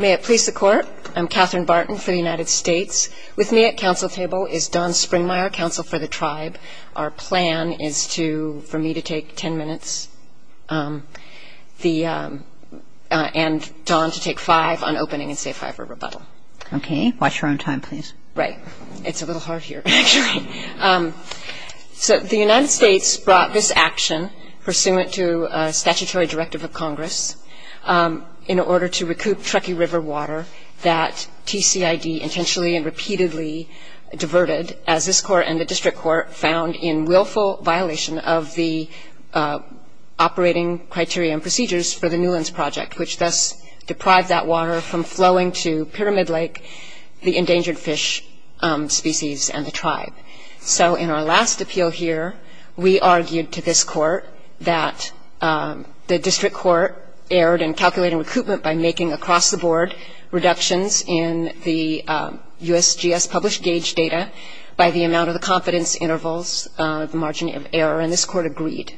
May it please the Court, I'm Katherine Barton for the United States. With me at counsel table is Dawn Springmeyer, counsel for the tribe. Our plan is for me to take ten minutes and Dawn to take five on opening and say if I have a rebuttal. Okay, watch your own time please. Right, it's a little hard here actually. So the United States brought this action pursuant to a statutory directive of Congress in order to recoup Truckee River water that TCID intentionally and repeatedly diverted as this court and the district court found in willful violation of the operating criteria and procedures for the Newlands Project, which thus deprived that water from flowing to Pyramid Lake, the endangered fish species and the tribe. So in our last appeal here, we argued to this court that the district court erred in calculating recoupment by making across the board reductions in the USGS published gauge data by the amount of the confidence intervals, the margin of error, and this court agreed.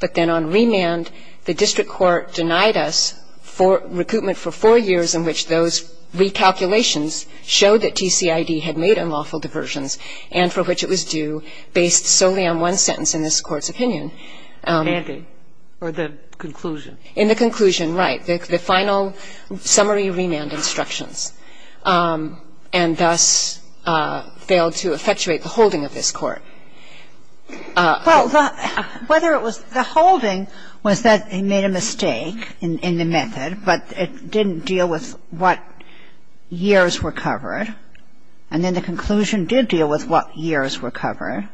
But then on remand, the district court denied us for recoupment for four years in which those recalculations showed that TCID had made unlawful diversions and for which it was due based solely on one sentence in this court's opinion. Kagan. Or the conclusion. In the conclusion, right. The final summary remand instructions. And thus failed to effectuate the holding of this court. Well, whether it was the holding was that they made a mistake in the method, but it didn't deal with what years were covered. And then the conclusion did deal with what years were covered.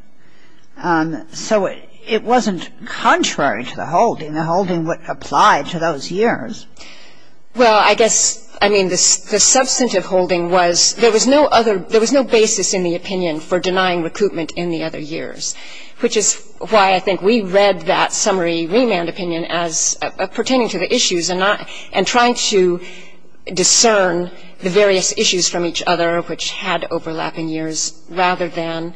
So it wasn't contrary to the holding. The holding would apply to those years. Well, I guess, I mean, the substantive holding was there was no other – there was no basis in the opinion for denying recoupment in the other years. Which is why I think we read that summary remand opinion as pertaining to the issues and not – and trying to discern the various issues from each other which had overlapping years rather than,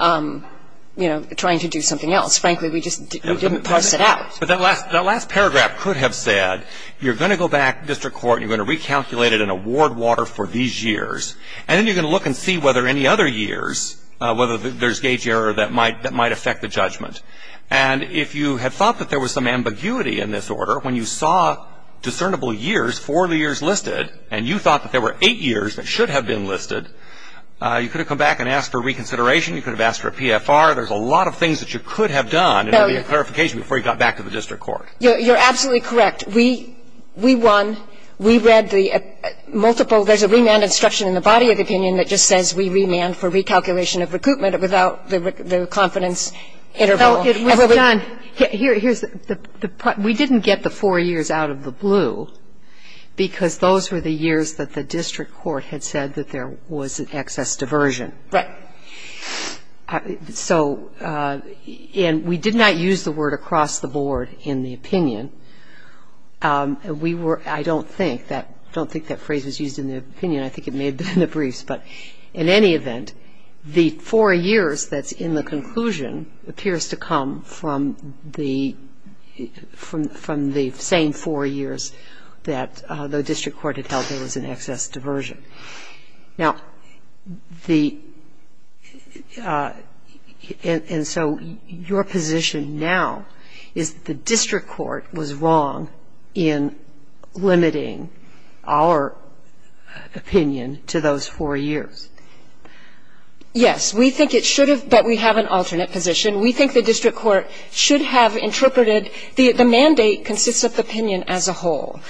you know, trying to do something else. Frankly, we just didn't parse it out. But that last paragraph could have said you're going to go back to district court and you're going to recalculate it in a ward water for these years. And then you're going to look and see whether any other years, whether there's gauge error that might affect the judgment. And if you had thought that there was some ambiguity in this order, when you saw discernible years, four of the years listed, and you thought that there were eight years that should have been listed, you could have come back and asked for reconsideration. You could have asked for a PFR. There's a lot of things that you could have done. And it would be a clarification before you got back to the district court. You're absolutely correct. We won. We read the multiple – there's a remand instruction in the body of the opinion that just says we remand for recalculation of recruitment without the confidence interval. Well, it was done. Here's the – we didn't get the four years out of the blue because those were the years that the district court had said that there was excess diversion. Right. So – and we did not use the word across the board in the opinion. We were – I don't think that – I don't think that phrase was used in the opinion. I think it may have been in the briefs. But in any event, the four years that's in the conclusion appears to come from the – from the same four years that the district court had held there was an excess diversion. Now, the – and so your position now is that the district court was wrong in limiting our opinion to those four years. Yes. We think it should have, but we have an alternate position. We think the district court should have interpreted – the mandate consists of the opinion as a whole.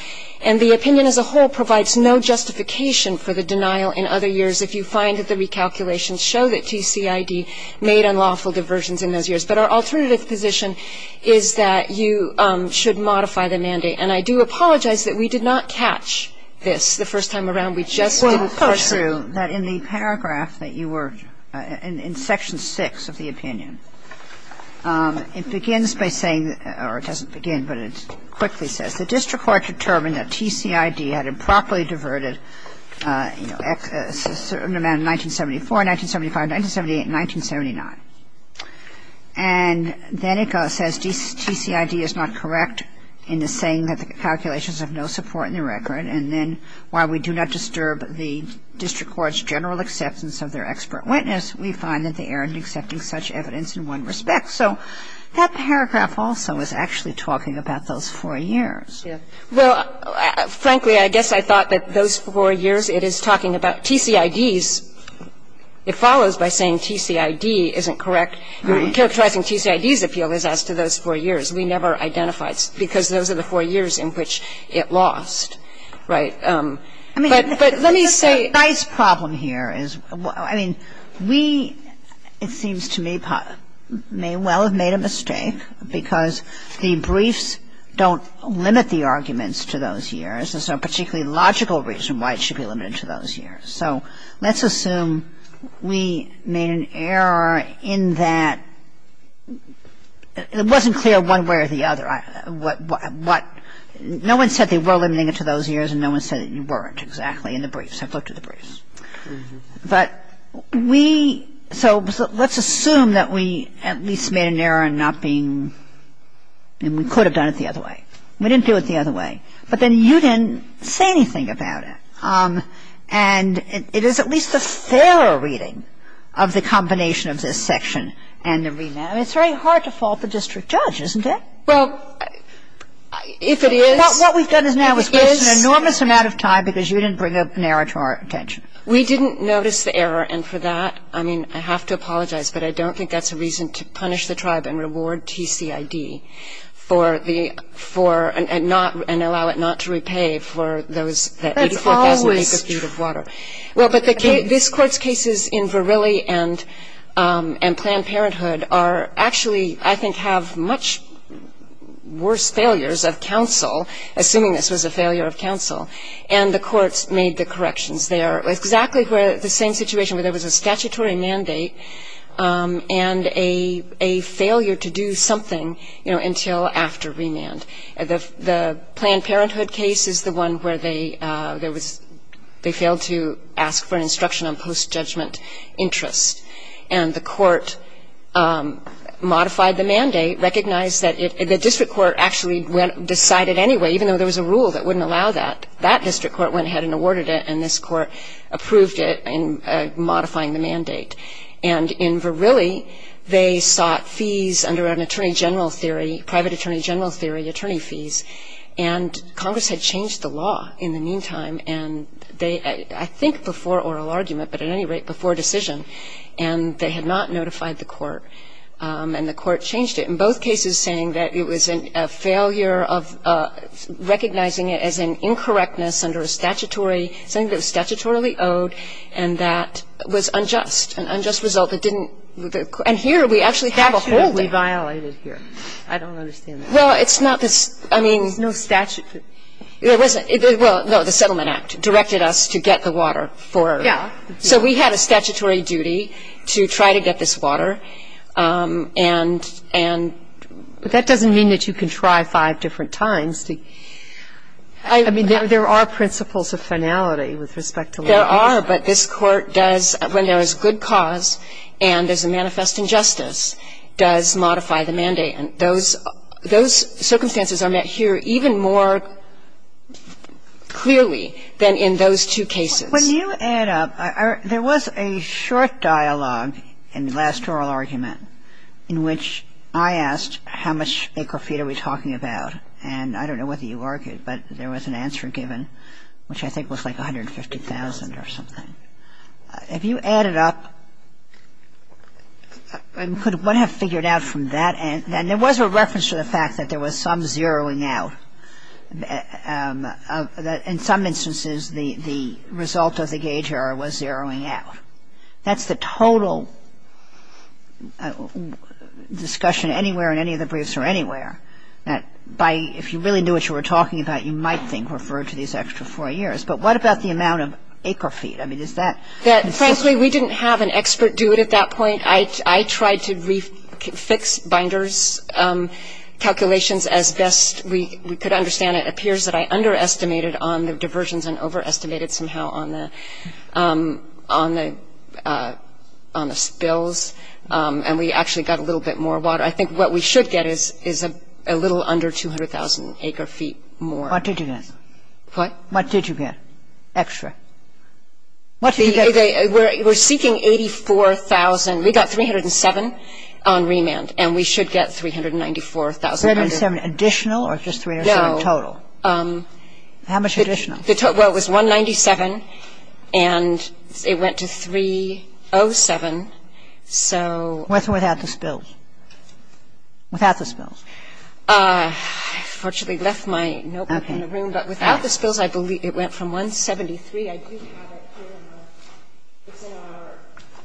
And the opinion as a whole provides no justification for the denial in other years if you find that the recalculations show that TCID made unlawful diversions in those years. But our alternative position is that you should modify the mandate. And I do apologize that we did not catch this the first time around. We just didn't pursue. Well, it's true that in the paragraph that you were – in Section 6 of the opinion, it begins by saying – or it doesn't begin, but it quickly says, the district court determined that TCID had improperly diverted a certain amount in 1974, 1975, 1978, and 1979. And then it says TCID is not correct in the saying that the calculations have no support in the record. And then while we do not disturb the district court's general acceptance of their expert witness, we find that they erred in accepting such evidence in one respect. So that paragraph also is actually talking about those four years. Well, frankly, I guess I thought that those four years, it is talking about TCIDs. It follows by saying TCID isn't correct. Characterizing TCID's appeal is as to those four years. We never identified because those are the four years in which it lost. Right? But let me say – I mean, we, it seems to me, may well have made a mistake because the briefs don't limit the arguments to those years. There's no particularly logical reason why it should be limited to those years. So let's assume we made an error in that – it wasn't clear one way or the other. What – no one said they were limiting it to those years and no one said that you weren't, exactly, in the briefs. I looked at the briefs. But we – so let's assume that we at least made an error in not being – and we could have done it the other way. We didn't do it the other way. But then you didn't say anything about it. And it is at least a fairer reading of the combination of this section and the remand. I mean, it's very hard to fault the district judge, isn't it? Well, if it is – What we've done is now is waste an enormous amount of time because you didn't bring up an error to our attention. We didn't notice the error. And for that, I mean, I have to apologize. But I don't think that's a reason to punish the tribe and reward TCID for the – for – and not – and allow it not to repay for those – That's always – Assuming this was a failure of counsel. And the courts made the corrections there. It was exactly the same situation where there was a statutory mandate and a failure to do something, you know, until after remand. The Planned Parenthood case is the one where they – there was – they failed to ask for an instruction on post-judgment interest. And the court modified the mandate, recognized that it – the district court actually decided anyway, even though there was a rule that wouldn't allow that. That district court went ahead and awarded it. And this court approved it in modifying the mandate. And in Verrilli, they sought fees under an attorney general theory, private attorney general theory, attorney fees. And Congress had changed the law in the meantime. And they – I think before oral argument, but at any rate, before decision. And they had not notified the court. And the court changed it in both cases, saying that it was a failure of recognizing it as an incorrectness under a statutory – something that was statutorily owed and that was unjust, an unjust result that didn't – and here we actually have a whole – Statutory violated here. I don't understand that. Well, it's not – I mean – There's no statute. There wasn't. Well, no, the Settlement Act directed us to get the water for – Yeah. So we had a statutory duty to try to get this water. And – and – But that doesn't mean that you can try five different times to – I mean, there are principles of finality with respect to law. There are, but this court does – when there is good cause and there's a manifest injustice, does modify the mandate. And those – those circumstances are met here even more clearly than in those two cases. When you add up – there was a short dialogue in the last oral argument in which I asked how much acre feet are we talking about, and I don't know whether you argued, but there was an answer given, which I think was like 150,000 or something. Have you added up – could one have figured out from that – and there was a reference to the fact that there was some zeroing out, that in some instances the – the result of the gauge error was zeroing out. That's the total discussion anywhere in any of the briefs or anywhere, that by – if you really knew what you were talking about, you might think refer to these extra four years. But what about the amount of acre feet? I mean, is that – Frankly, we didn't have an expert do it at that point. I tried to fix Binder's calculations as best we could understand it. It appears that I underestimated on the diversions and overestimated somehow on the – on the – on the spills. And we actually got a little bit more water. I think what we should get is a little under 200,000 acre feet more. What did you get? What? What did you get extra? What did you get? We're seeking 84,000. We got 307 on remand and we should get 394,000. 307 additional or just 307 total? No. How much additional? Well, it was 197 and it went to 307. So – With or without the spills? Without the spills. I fortunately left my notebook in the room. Okay. But without the spills, I believe it went from 173. I do have it here in the – it's in our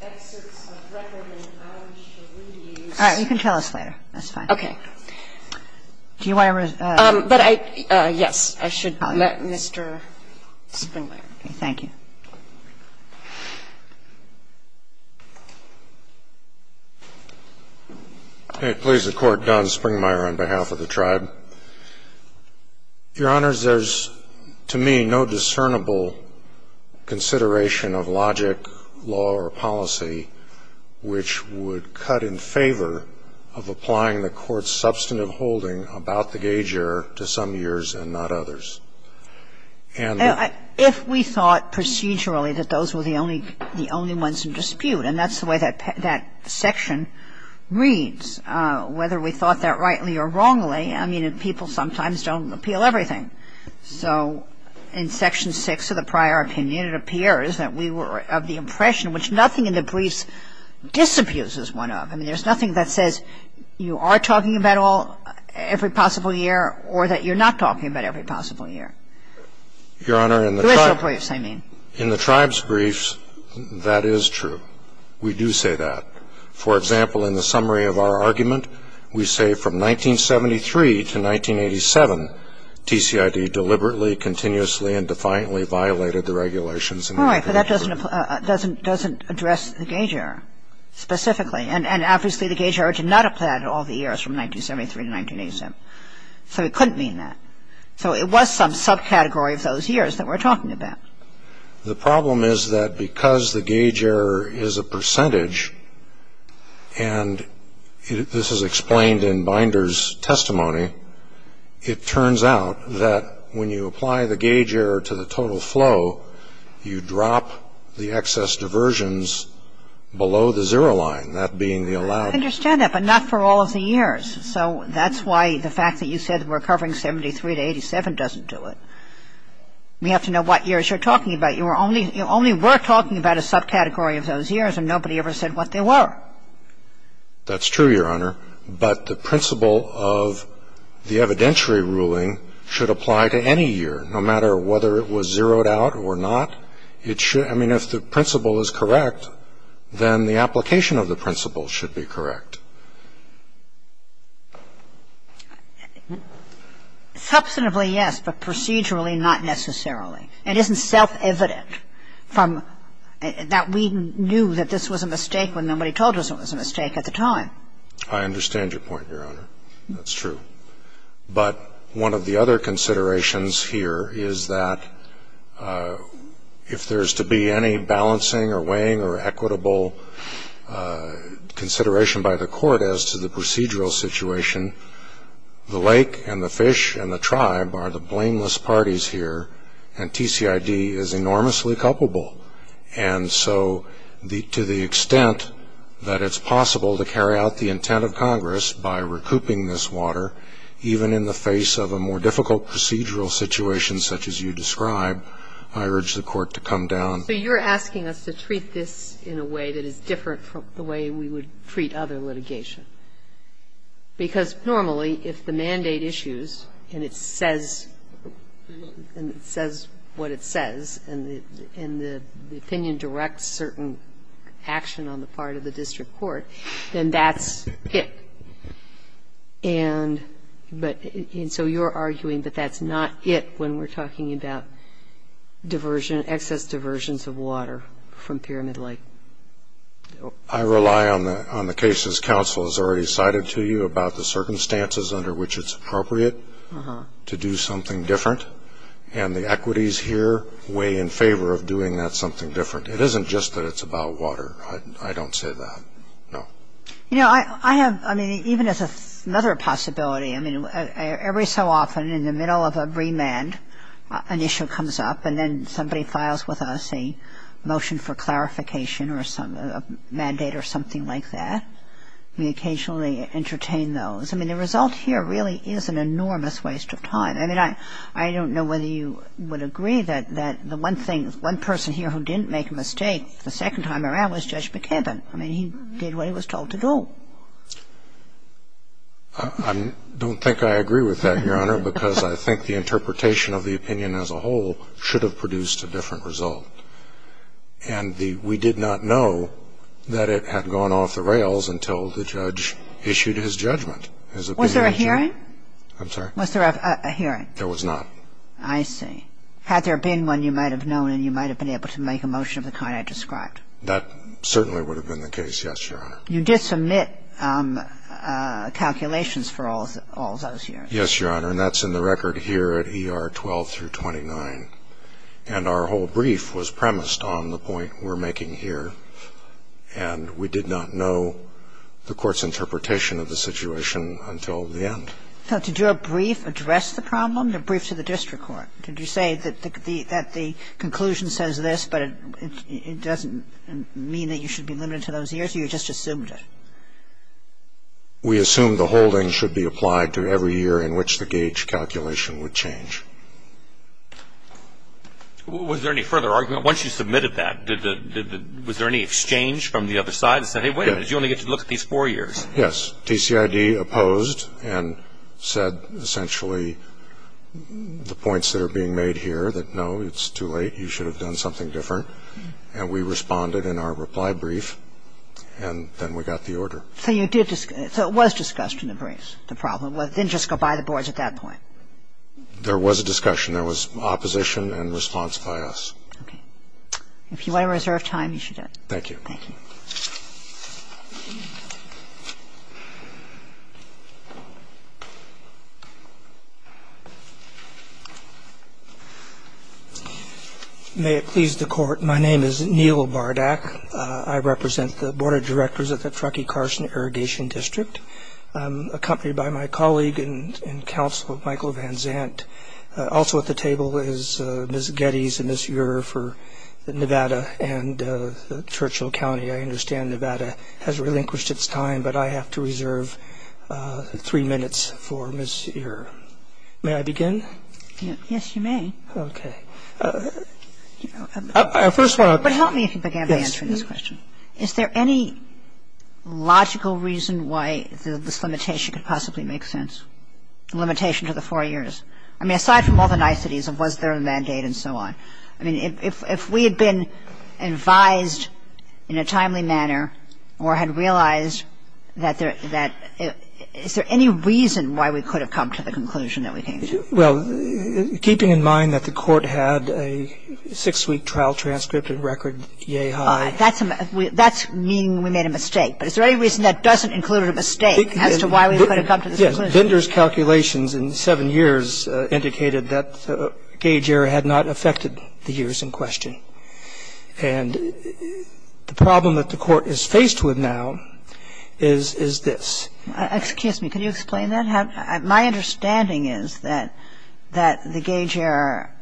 excerpts of record and I wish to read these. All right. You can tell us later. That's fine. Okay. Do you want to – But I – yes. I should let Mr. Springmeier. Okay. Thank you. Please, the Court. Don Springmeier on behalf of the Tribe. Your Honors, there's, to me, no discernible consideration of logic, law, or policy which would cut in favor of applying the Court's substantive holding about the gauge error to some years and not others. If we thought procedurally that those were the only ones in dispute, and that's the way that section reads, whether we thought that rightly or wrongly, I mean, people sometimes don't appeal everything. So in Section 6 of the prior opinion, it appears that we were of the impression which nothing in the briefs disabuses one of. I mean, there's nothing that says you are talking about every possible year or that you're not talking about every possible year. Your Honor, in the Tribe's briefs, that is true. We do say that. For example, in the summary of our argument, we say from 1973 to 1987, TCID deliberately, continuously, and defiantly violated the regulations. All right. But that doesn't address the gauge error specifically. And obviously the gauge error did not apply to all the years from 1973 to 1987. So it couldn't mean that. So it was some subcategory of those years that we're talking about. The problem is that because the gauge error is a percentage, and this is explained in Binder's testimony, it turns out that when you apply the gauge error to the total flow, you drop the excess diversions below the zero line. And that being the allowed... I understand that, but not for all of the years. So that's why the fact that you said we're covering 1973 to 1987 doesn't do it. We have to know what years you're talking about. You only were talking about a subcategory of those years, and nobody ever said what they were. That's true, Your Honor. But the principle of the evidentiary ruling should apply to any year, no matter whether it was zeroed out or not. It should. I mean, if the principle is correct, then the application of the principle should be correct. Substantively, yes, but procedurally, not necessarily. It isn't self-evident from that we knew that this was a mistake when nobody told us it was a mistake at the time. I understand your point, Your Honor. That's true. But one of the other considerations here is that if there's to be any balancing or weighing or equitable consideration by the court as to the procedural situation, the lake and the fish and the tribe are the blameless parties here, and TCID is enormously culpable. And so to the extent that it's possible to carry out the intent of Congress by recouping this water, even in the face of a more difficult procedural situation such as you describe, I urge the Court to come down. So you're asking us to treat this in a way that is different from the way we would treat other litigation, because normally, if the mandate issues and it says what it says and the opinion directs certain action on the part of the district court, then that's it. And so you're arguing that that's not it when we're talking about diversion, excess diversions of water from Pyramid Lake. I rely on the cases counsel has already cited to you about the circumstances under which it's appropriate to do something different, and the equities here weigh in favor of doing that something different. It isn't just that it's about water. I don't say that, no. You know, I have, I mean, even as another possibility, I mean, every so often in the middle of a remand, an issue comes up, and then somebody files with us a motion for clarification or a mandate or something like that. We occasionally entertain those. I mean, the result here really is an enormous waste of time. I mean, I don't know whether you would agree that the one thing, I don't think I agree with that, Your Honor, because I think the interpretation of the opinion as a whole should have produced a different result. And we did not know that it had gone off the rails until the judge issued his judgment, his opinion. Was there a hearing? I'm sorry? Was there a hearing? There was not. I see. Had there been one, you might have known, and you might have been able to make that judgment. In the case of the District Court, did you make a motion of the kind I described? That certainly would have been the case, yes, Your Honor. You did submit calculations for all those hearings? Yes, Your Honor. And that's in the record here at ER 12 through 29. And our whole brief was premised on the point we're making here. And we did not know the Court's interpretation of the situation until the end. Did your brief address the problem, the brief to the District Court? Did you say that the conclusion says this, but it doesn't mean that you should be limited to those years, or you just assumed it? We assumed the holding should be applied to every year in which the gauge calculation would change. Was there any further argument? Once you submitted that, was there any exchange from the other side that said, hey, wait a minute, you only get to look at these four years? Yes. The TCID opposed and said essentially the points that are being made here, that, no, it's too late, you should have done something different. And we responded in our reply brief, and then we got the order. So you did – so it was discussed in the brief, the problem? It didn't just go by the boards at that point? There was a discussion. There was opposition and response by us. Okay. Thank you. Thank you. Thank you. May it please the Court, my name is Neil Bardak. I represent the Board of Directors of the Truckee-Carson Irrigation District. I'm accompanied by my colleague and counsel, Michael Van Zandt. Also at the table is Ms. Geddes and Ms. Ure for Nevada and Churchill County. I understand Nevada has relinquished its time, but I have to reserve three minutes for Ms. Ure. May I begin? Yes, you may. Okay. But help me if you begin by answering this question. Yes. Is there any logical reason why this limitation could possibly make sense, the limitation to the four years? I mean, aside from all the niceties of was there a mandate and so on. I mean, if we had been advised in a timely manner or had realized that there – is there any reason why we could have come to the conclusion that we came to? Well, keeping in mind that the Court had a six-week trial transcript and record yay high. That's meaning we made a mistake. But is there any reason that doesn't include a mistake as to why we could have come to the conclusion? Yes. Vendor's calculations in seven years indicated that the gauge error had not affected the years in question. And the problem that the Court is faced with now is this. Excuse me. Can you explain that? My understanding is that the gauge error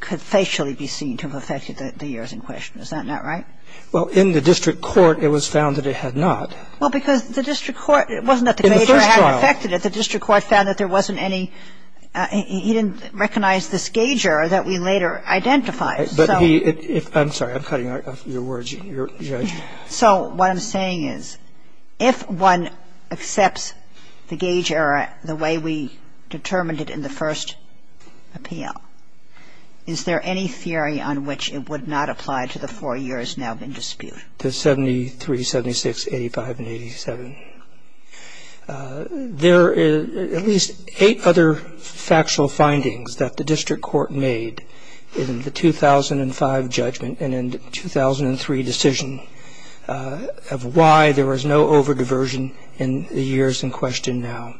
could facially be seen to have affected the years in question. Is that not right? Well, in the district court it was found that it had not. Well, because the district court – it wasn't that the gauge error had affected it. In the first trial. The district court found that there wasn't any – he didn't recognize this gauge error that we later identified. But he – I'm sorry. I'm cutting off your words, Your Honor. So what I'm saying is if one accepts the gauge error the way we determined it in the first appeal, is there any theory on which it would not apply to the four years now being disputed? To 73, 76, 85, and 87. There are at least eight other factual findings that the district court made in the 2005 judgment and in the 2003 decision of why there was no over-diversion in the years in question now.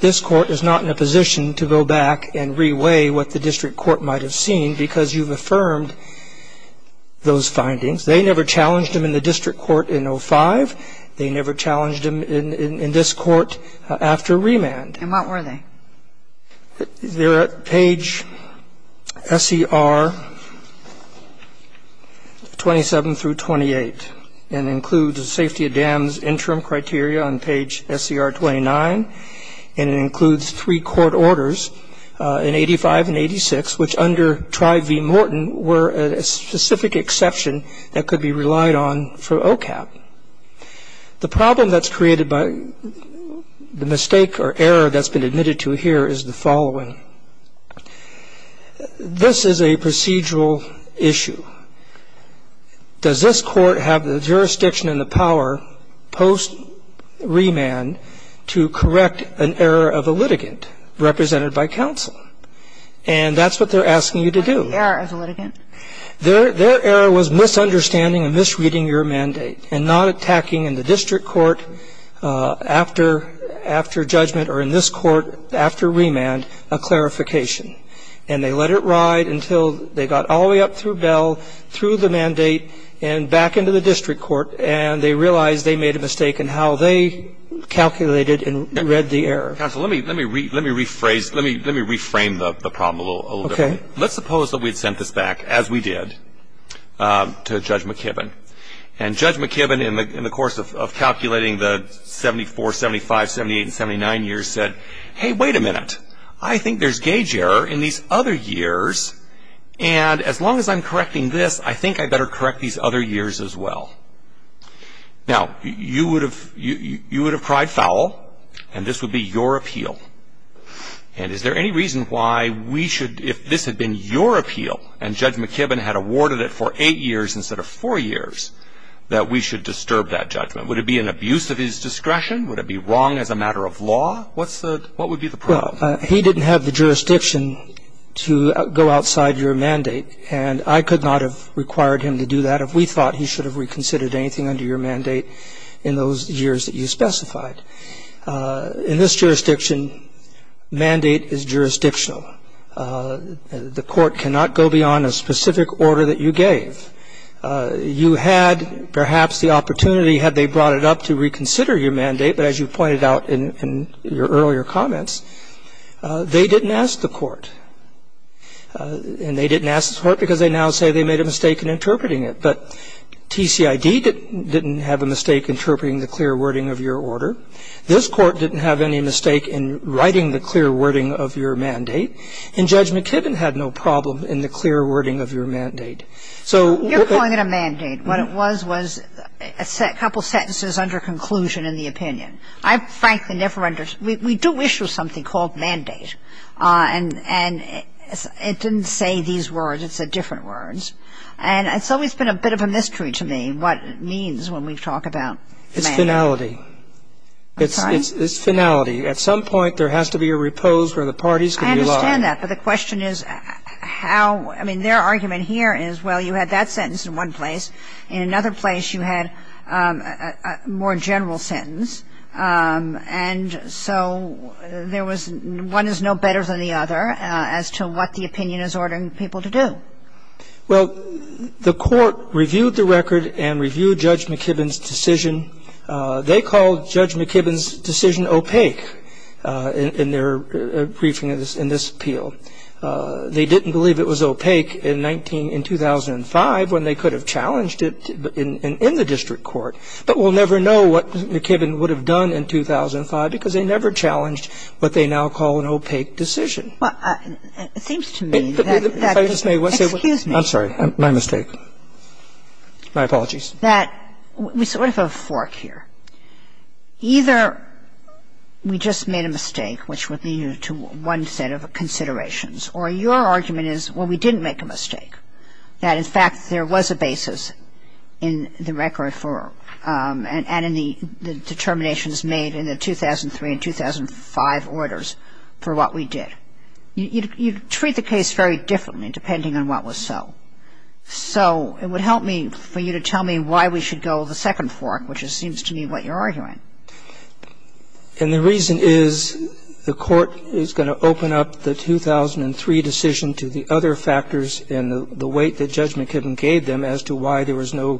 This court is not in a position to go back and re-weigh what the district court might have seen because you've affirmed those findings. They never challenged them in the district court in 05. They never challenged them in this court after remand. And what were they? They're at page SCR 27 through 28. And it includes the safety of dams interim criteria on page SCR 29. And it includes three court orders in 85 and 86, which under Tribe v. Morton were a specific exception that could be relied on for OCAP. The problem that's created by the mistake or error that's been admitted to here is the following. This is a procedural issue. Does this court have the jurisdiction and the power post-remand to correct an error of a litigant represented by counsel? And that's what they're asking you to do. What about the error of the litigant? Their error was misunderstanding and misreading your mandate and not attacking in the district court after judgment or in this court after remand a clarification. And they let it ride until they got all the way up through Bell, through the mandate and back into the district court. And they realized they made a mistake in how they calculated and read the error. Counsel, let me rephrase, let me reframe the problem a little bit. Okay. Let's suppose that we had sent this back, as we did, to Judge McKibben. And Judge McKibben in the course of calculating the 74, 75, 78 and 79 years said, hey, wait a minute, I think there's gauge error in these other years. And as long as I'm correcting this, I think I better correct these other years as well. Now, you would have cried foul, and this would be your appeal. And is there any reason why we should, if this had been your appeal, and Judge McKibben had awarded it for eight years instead of four years, that we should disturb that judgment? Would it be an abuse of his discretion? Would it be wrong as a matter of law? What would be the problem? Well, he didn't have the jurisdiction to go outside your mandate, and I could not have required him to do that if we thought he should have reconsidered anything under your mandate in those years that you specified. In this jurisdiction, mandate is jurisdictional. The court cannot go beyond a specific order that you gave. You had perhaps the opportunity, had they brought it up, to reconsider your mandate, but as you pointed out in your earlier comments, they didn't ask the court. And they didn't ask the court because they now say they made a mistake in interpreting it. But TCID didn't have a mistake interpreting the clear wording of your order. This Court didn't have any mistake in writing the clear wording of your mandate. And Judge McKibben had no problem in the clear wording of your mandate. So what the ---- You're calling it a mandate. What it was was a couple sentences under conclusion in the opinion. I frankly never understood. We do issue something called mandate, and it didn't say these words. It said different words. And it's always been a bit of a mystery to me what it means when we talk about mandate. It's finality. I'm sorry? It's finality. At some point, there has to be a repose where the parties can rely. I understand that, but the question is how ---- I mean, their argument here is, well, you had that sentence in one place. In another place, you had a more general sentence. And so there was ---- one is no better than the other as to what the opinion is ordering people to do. Well, the court reviewed the record and reviewed Judge McKibben's decision. They call Judge McKibben's decision opaque in their briefing in this appeal. They didn't believe it was opaque in 19 ---- in 2005 when they could have challenged it in the district court, but we'll never know what McKibben would have done in 2005 because they never challenged what they now call an opaque decision. Well, it seems to me that ---- Excuse me. I'm sorry. My mistake. My apologies. That we sort of have a fork here. Either we just made a mistake, which would lead you to one set of considerations, or your argument is, well, we didn't make a mistake, that, in fact, there was a basis in the record for ---- and in the determinations made in the 2003 and 2005 orders for what we did. You treat the case very differently depending on what was so. So it would help me for you to tell me why we should go the second fork, which seems to me what you're arguing. And the reason is the court is going to open up the 2003 decision to the other factors and the weight that Judge McKibben gave them as to why there was no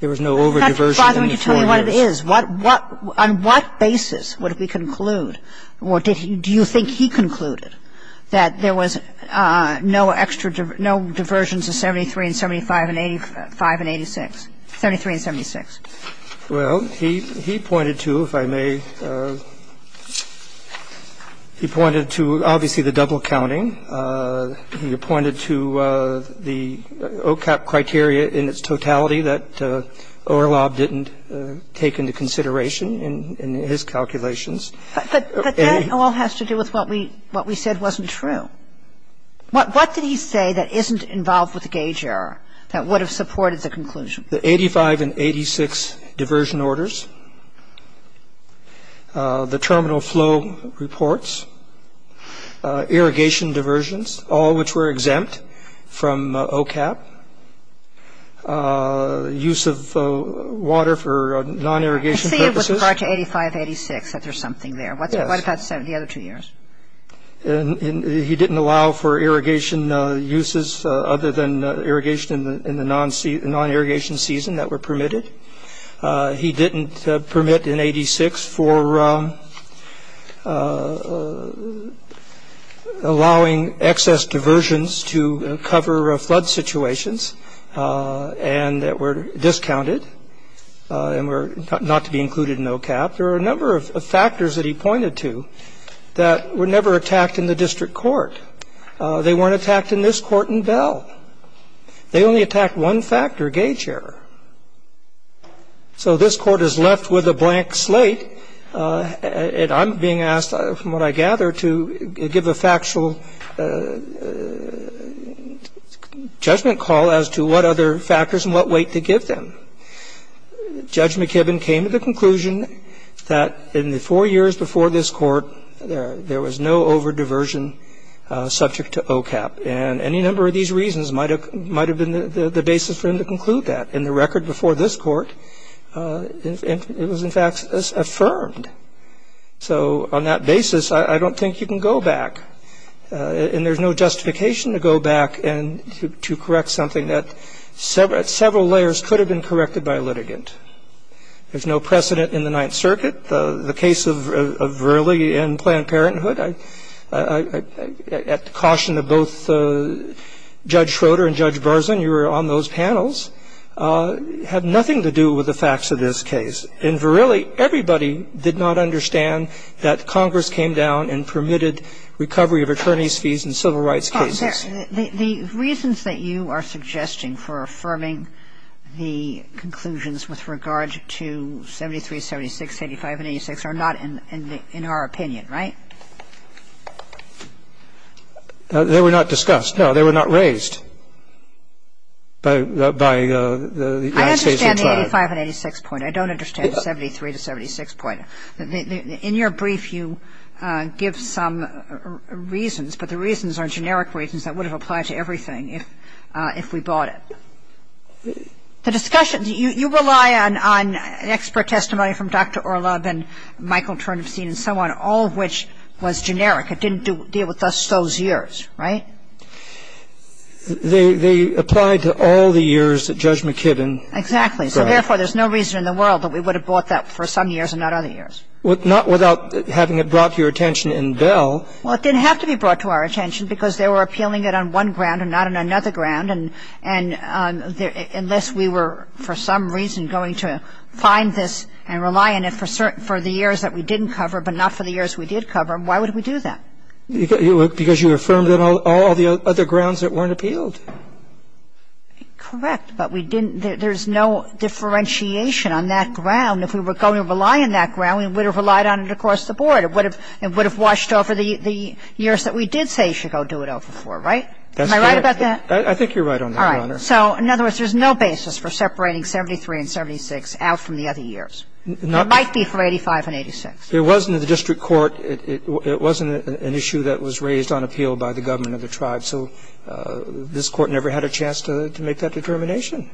overdiversion in the four years. In fact, Father, would you tell me what it is? On what basis would we conclude? Or did he ---- do you think he concluded that there was no extra ---- no diversions of 73 and 75 and 85 and 86 ---- 73 and 76? Well, he pointed to, if I may, he pointed to obviously the double counting. He pointed to the OCAP criteria in its totality that Orlob didn't take into consideration in his calculations. But that all has to do with what we said wasn't true. What did he say that isn't involved with the gauge error that would have supported the conclusion? The 85 and 86 diversion orders, the terminal flow reports, irrigation diversions, all which were exempt from OCAP, use of water for non-irrigation purposes. I see it was part 85, 86 that there's something there. Yes. What about the other two years? He didn't allow for irrigation uses other than irrigation in the non-irrigation season that were permitted. He didn't permit in 86 for allowing excess diversions to cover flood situations and that were discounted and were not to be included in OCAP. There were a number of factors that he pointed to that were never attacked in the district court. They weren't attacked in this court in Bell. They only attacked one factor, gauge error. So this Court is left with a blank slate, and I'm being asked, from what I gather, to give a factual judgment call as to what other factors and what weight to give them. Judge McKibben came to the conclusion that in the four years before this court, there was no over-diversion subject to OCAP, and any number of these reasons might have been the basis for him to conclude that. In the record before this court, it was, in fact, affirmed. So on that basis, I don't think you can go back, and there's no justification to go back and to correct something that several layers could have been corrected by a litigant. There's no precedent in the Ninth Circuit. The case of Verrilli and Planned Parenthood, at the caution of both Judge Schroeder and Judge Barzun, you were on those panels, had nothing to do with the facts of this case. And Verrilli, everybody did not understand that Congress came down and permitted recovery of attorneys' fees in civil rights cases. The reasons that you are suggesting for affirming the conclusions with regard to 73, 76, 85, and 86 are not in our opinion, right? They were not discussed. No, they were not raised by the United States Attorney. I understand the 85 and 86 point. I don't understand the 73 to 76 point. In your brief, you give some reasons, but the reasons are generic reasons that would have applied to everything if we bought it. The discussion, you rely on expert testimony from Dr. Orlob and Michael Turnstein and so on, all of which was generic. It didn't deal with us those years, right? They applied to all the years that Judge McKibbin brought. Exactly. So therefore, there's no reason in the world that we would have bought that for some years and not other years. Not without having it brought to your attention in Bell. Well, it didn't have to be brought to our attention because they were appealing it on one ground and not on another ground. And unless we were for some reason going to find this and rely on it for the years that we didn't cover but not for the years we did cover, why would we do that? Because you affirmed it on all the other grounds that weren't appealed. Correct. But we didn't – there's no differentiation on that ground. If we were going to rely on that ground, we would have relied on it across the board. It would have washed over the years that we did say you should go do it over for, right? Am I right about that? I think you're right on that, Your Honor. All right. So in other words, there's no basis for separating 73 and 76 out from the other years. It might be for 85 and 86. It wasn't in the district court. It wasn't an issue that was raised on appeal by the government of the tribe. So this Court never had a chance to make that determination.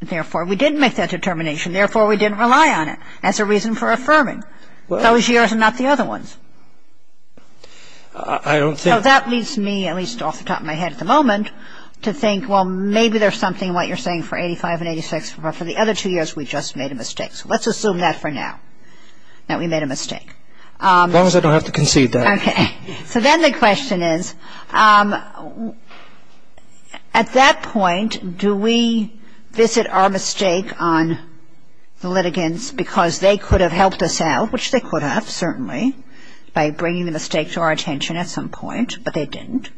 Therefore, we didn't make that determination. Therefore, we didn't rely on it as a reason for affirming those years and not the other ones. I don't think – So that leads me, at least off the top of my head at the moment, to think, well, maybe there's something in what you're saying for 85 and 86. But for the other two years, we just made a mistake. So let's assume that for now, that we made a mistake. As long as I don't have to concede that. Okay. So then the question is, at that point, do we visit our mistake on the litigants because they could have helped us out, which they could have, certainly, by bringing the mistake to our attention at some point, but they didn't.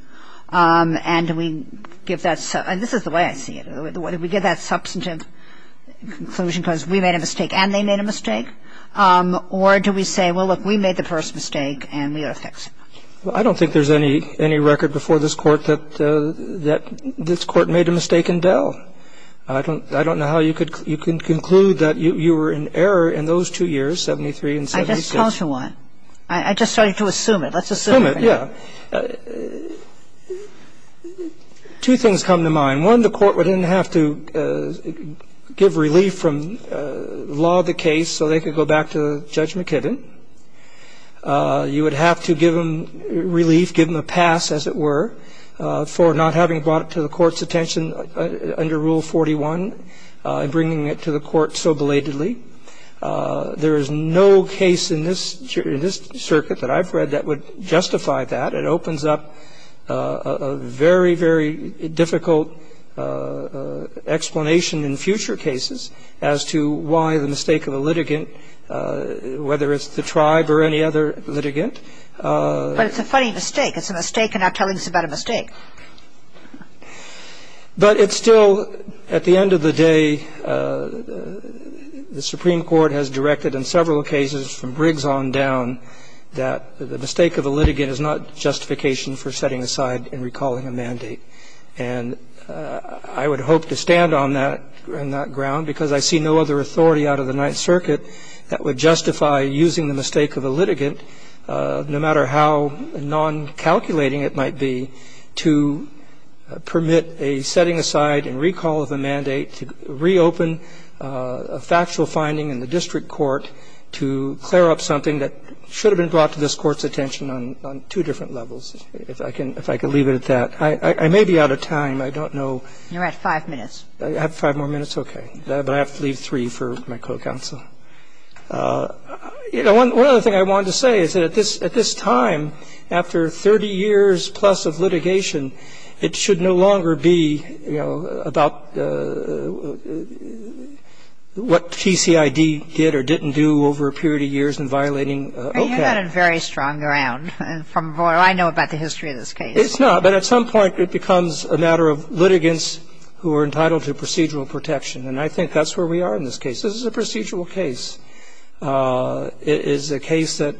And do we give that – and this is the way I see it. Do we give that substantive conclusion because we made a mistake and they made a mistake? Or do we say, well, look, we made the first mistake and we ought to fix it? Well, I don't think there's any record before this Court that this Court made a mistake in Bell. I don't know how you can conclude that you were in error in those two years, 73 and 76. I just told you one. I just started to assume it. Let's assume it for now. Assume it, yeah. Two things come to mind. One, the Court wouldn't have to give relief from law the case so they could go back to Judge McKibben. You would have to give them relief, give them a pass, as it were, for not having brought it to the Court's attention under Rule 41 and bringing it to the Court so belatedly. There is no case in this circuit that I've read that would justify that. It opens up a very, very difficult explanation in future cases as to why the mistake of a litigant, whether it's the tribe or any other litigant. But it's a funny mistake. It's a mistake and not telling us about a mistake. But it's still, at the end of the day, the Supreme Court has directed in several cases from Briggs on down that the mistake of a litigant is not justification for setting aside and recalling a mandate. And I would hope to stand on that ground because I see no other authority out of the Ninth Circuit that would justify using the mistake of a litigant, no matter how non-calculating it might be, to permit a setting aside and recalling a mandate, to reopen a factual finding in the district court, to clear up something that should have been brought to this Court's attention on two different levels, if I can leave it at that. I may be out of time. I don't know. Kagan. You're at five minutes. I have five more minutes? Okay. But I have to leave three for my co-counsel. One other thing I wanted to say is that at this time, after 30 years plus of litigation, it should no longer be, you know, about what TCID did or didn't do over a period of years in violating OCAD. You've got a very strong ground from what I know about the history of this case. It's not. But at some point it becomes a matter of litigants who are entitled to procedural protection, and I think that's where we are in this case. This is a procedural case. It is a case that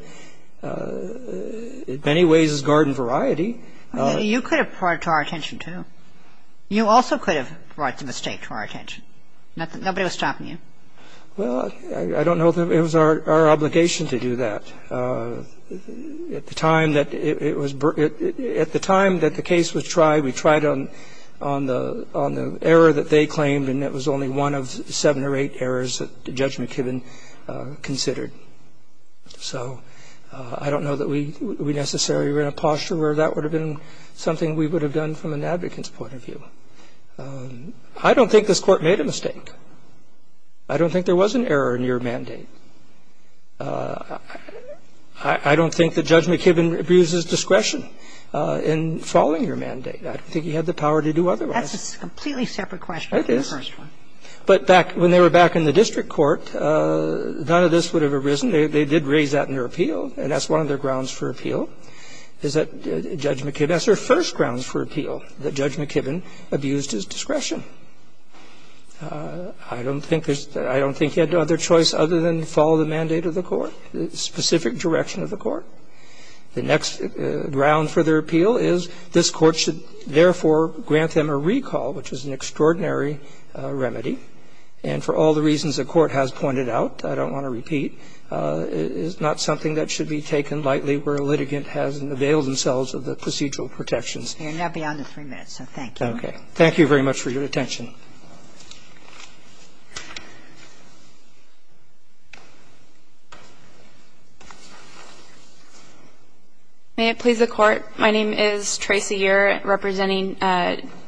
in many ways is garden variety. You could have brought it to our attention, too. You also could have brought the mistake to our attention. Nobody was stopping you. Well, I don't know if it was our obligation to do that. At the time that the case was tried, we tried on the error that they claimed, and it was only one of seven or eight errors that Judge McKibben considered. So I don't know that we necessarily were in a posture where that would have been something we would have done from an advocate's point of view. I don't think this Court made a mistake. I don't think there was an error in your mandate. I don't think that Judge McKibben abuses discretion in following your mandate. I don't think he had the power to do otherwise. It is. But when they were back in the district court, none of this would have arisen. They did raise that in their appeal, and that's one of their grounds for appeal, is that Judge McKibben, that's their first grounds for appeal, that Judge McKibben abused his discretion. I don't think he had no other choice other than to follow the mandate of the court, the specific direction of the court. The next ground for their appeal is this Court should therefore grant them a recall, which is an extraordinary remedy. And for all the reasons the Court has pointed out, I don't want to repeat, it is not something that should be taken lightly where a litigant hasn't availed themselves of the procedural protections. Kagan. You're now beyond the three minutes, so thank you. Okay. Thank you very much for your attention. May it please the Court. My name is Tracy Year, representing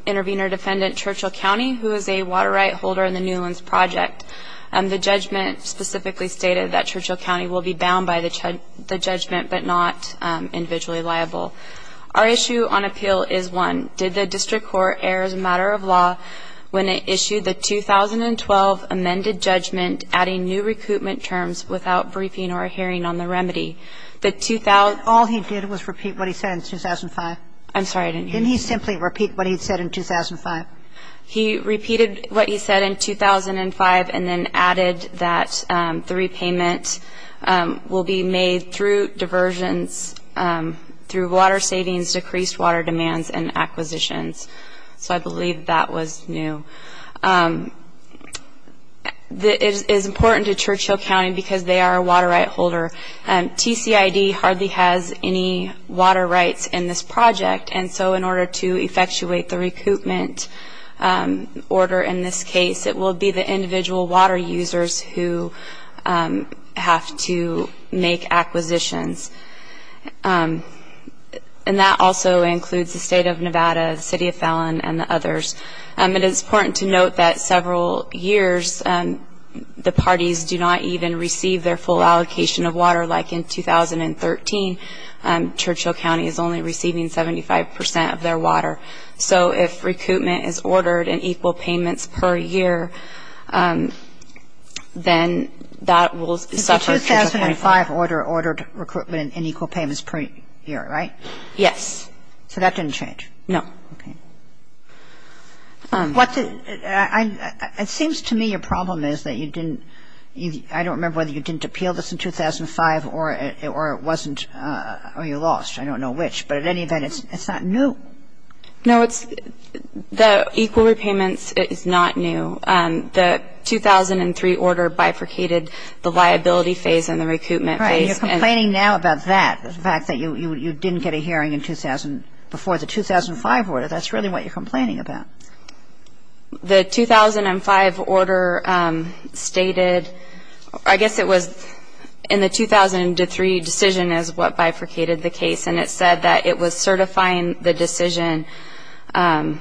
intervener defendant Churchill County, who is a water right holder in the Newlands Project. The judgment specifically stated that Churchill County will be bound by the judgment but not individually liable. Our issue on appeal is one. Did the district court air as a matter of law when it issued the 2012 amended judgment adding new recoupment terms without briefing or a hearing on the remedy? All he did was repeat what he said in 2005. I'm sorry, I didn't hear you. Didn't he simply repeat what he said in 2005? He repeated what he said in 2005 and then added that the repayment will be made through diversions, through water savings, decreased water demands and acquisitions. So I believe that was new. It is important to Churchill County because they are a water right holder. TCID hardly has any water rights in this project, and so in order to effectuate the recoupment order in this case, it will be the individual water users who have to make acquisitions. And that also includes the State of Nevada, the City of Fallon and the others. It is important to note that several years, the parties do not even receive their full allocation of water. Like in 2013, Churchill County is only receiving 75% of their water. So if recoupment is ordered in equal payments per year, then that will suffer. The 2005 order ordered recoupment in equal payments per year, right? Yes. So that didn't change? No. Okay. It seems to me your problem is that you didn't, I don't remember whether you didn't appeal this in 2005 or it wasn't, or you lost. I don't know which. But in any event, it's not new. No, the equal repayments is not new. The 2003 order bifurcated the liability phase and the recoupment phase. Right. You're complaining now about that, the fact that you didn't get a hearing before the 2005 order. That's really what you're complaining about. The 2005 order stated, I guess it was in the 2003 decision is what bifurcated the case, and it said that it was certifying the decision on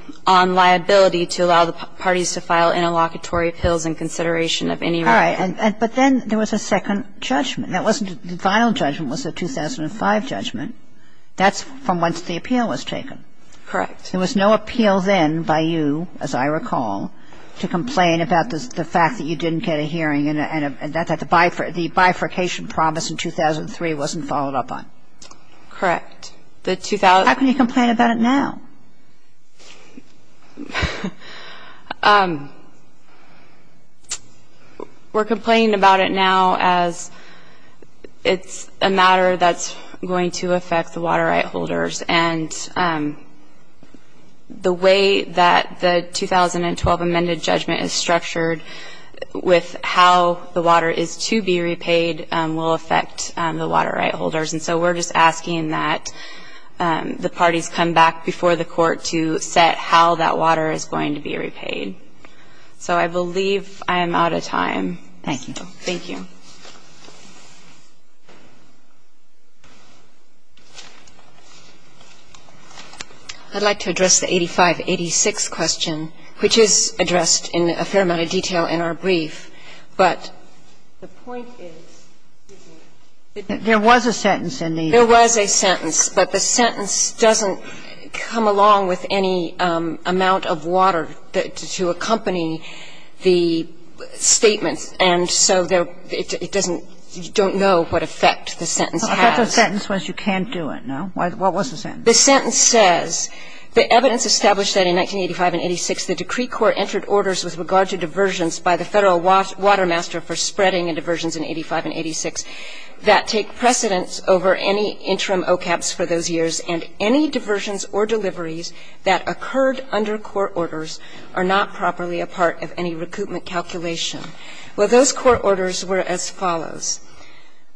liability to allow the parties to file interlocutory appeals in consideration of any right. All right. But then there was a second judgment. The final judgment was the 2005 judgment. That's from once the appeal was taken. Correct. There was no appeal then by you, as I recall, to complain about the fact that you didn't get a hearing and that the bifurcation promise in 2003 wasn't followed up on. Correct. How can you complain about it now? We're complaining about it now as it's a matter that's going to affect the water right holders. And the way that the 2012 amended judgment is structured with how the water is to be repaid will affect the water right holders. And so we're just asking that the parties come back before the court to set how that water is going to be repaid. So I believe I am out of time. Thank you. I'd like to address the 8586 question, which is addressed in a fair amount of detail in our brief. But the point is that there was a sentence in there. There was a sentence. But the sentence doesn't come along with any amount of water to accompany the statements. And so it doesn't, you don't know what effect the sentence has. Well, I thought the sentence was you can't do it. No? What was the sentence? The sentence says, The evidence established that in 1985 and 86, the decree court entered orders with regard to diversions by the Federal Water Master for spreading and diversions in 85 and 86 that take precedence over any interim OCAPs for those years and any diversions or deliveries that occurred under court orders are not properly a part of any recoupment calculation. Well, those court orders were as follows.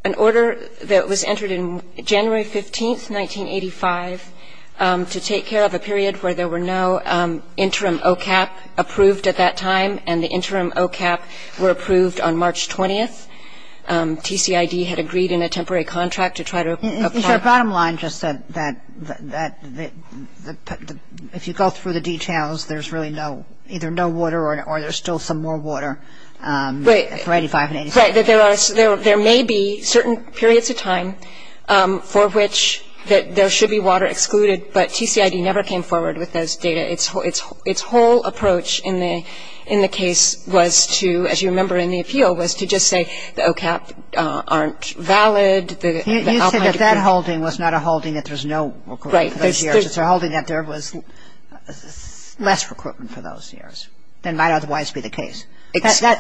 An order that was entered in January 15th, 1985, to take care of a period where there were no interim OCAP approved at that time, and the interim OCAP were approved on March 20th. TCID had agreed in a temporary contract to try to apply. But your bottom line just said that if you go through the details, there's really no, either no water or there's still some more water for 85 and 86. Right. There may be certain periods of time for which there should be water excluded, but TCID never came forward with those data. Its whole approach in the case was to, as you remember in the appeal, was to just say the OCAP aren't valid. You said that that holding was not a holding that there's no recoupment for those years. It's a holding that there was less recoupment for those years than might otherwise be the case.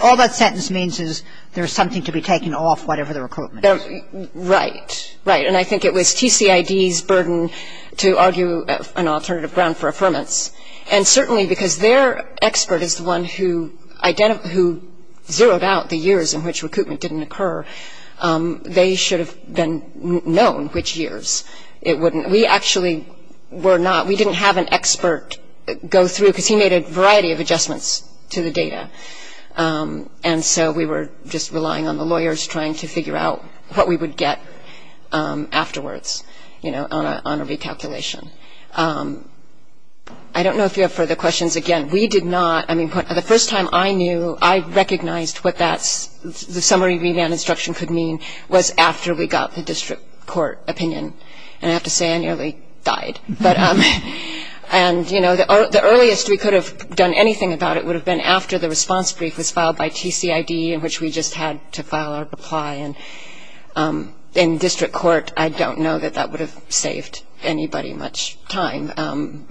All that sentence means is there's something to be taken off whatever the recoupment is. Right. Right. And I think it was TCID's burden to argue an alternative ground for affirmance. And certainly because their expert is the one who zeroed out the years in which recoupment didn't occur, they should have been known which years it wouldn't. We actually were not. We didn't have an expert go through because he made a variety of adjustments to the data. And so we were just relying on the lawyers trying to figure out what we would get afterwards on a recalculation. I don't know if you have further questions. Again, we did not. I mean, the first time I knew I recognized what the summary remand instruction could mean was after we got the district court opinion. And I have to say I nearly died. And, you know, the earliest we could have done anything about it would have been after the response brief was filed by TCID, in which we just had to file our reply. And in district court, I don't know that that would have saved anybody much time.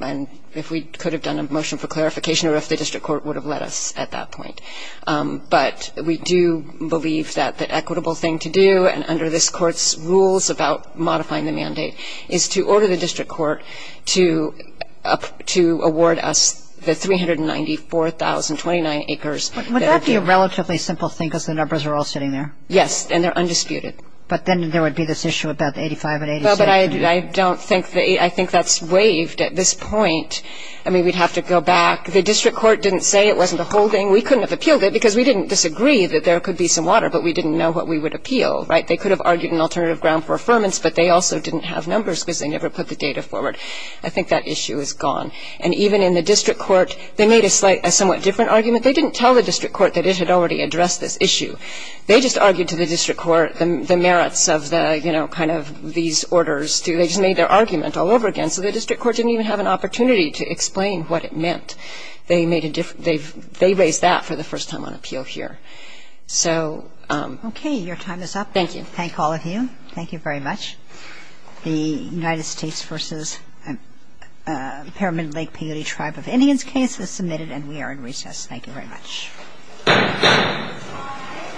If we could have done a motion for clarification or if the district court would have let us at that point. But we do believe that the equitable thing to do, and under this court's rules about modifying the mandate, is to order the district court to award us the 394,029 acres. Would that be a relatively simple thing because the numbers are all sitting there? Yes, and they're undisputed. But then there would be this issue about 85 and 86. But I don't think that's waived at this point. I mean, we'd have to go back. The district court didn't say it wasn't a holding. We couldn't have appealed it because we didn't disagree that there could be some water, but we didn't know what we would appeal, right? They could have argued an alternative ground for affirmance, but they also didn't have numbers because they never put the data forward. I think that issue is gone. And even in the district court, they made a somewhat different argument. They didn't tell the district court that it had already addressed this issue. They just argued to the district court the merits of the, you know, kind of these orders. They just made their argument all over again. So the district court didn't even have an opportunity to explain what it meant. They raised that for the first time on appeal here. So ‑‑ Okay. Your time is up. Thank you. Thank all of you. Thank you very much. The United States v. Pyramid Lake Peyote Tribe of Indians case is submitted, and we are in recess. Thank you very much. Thank you. Thank you.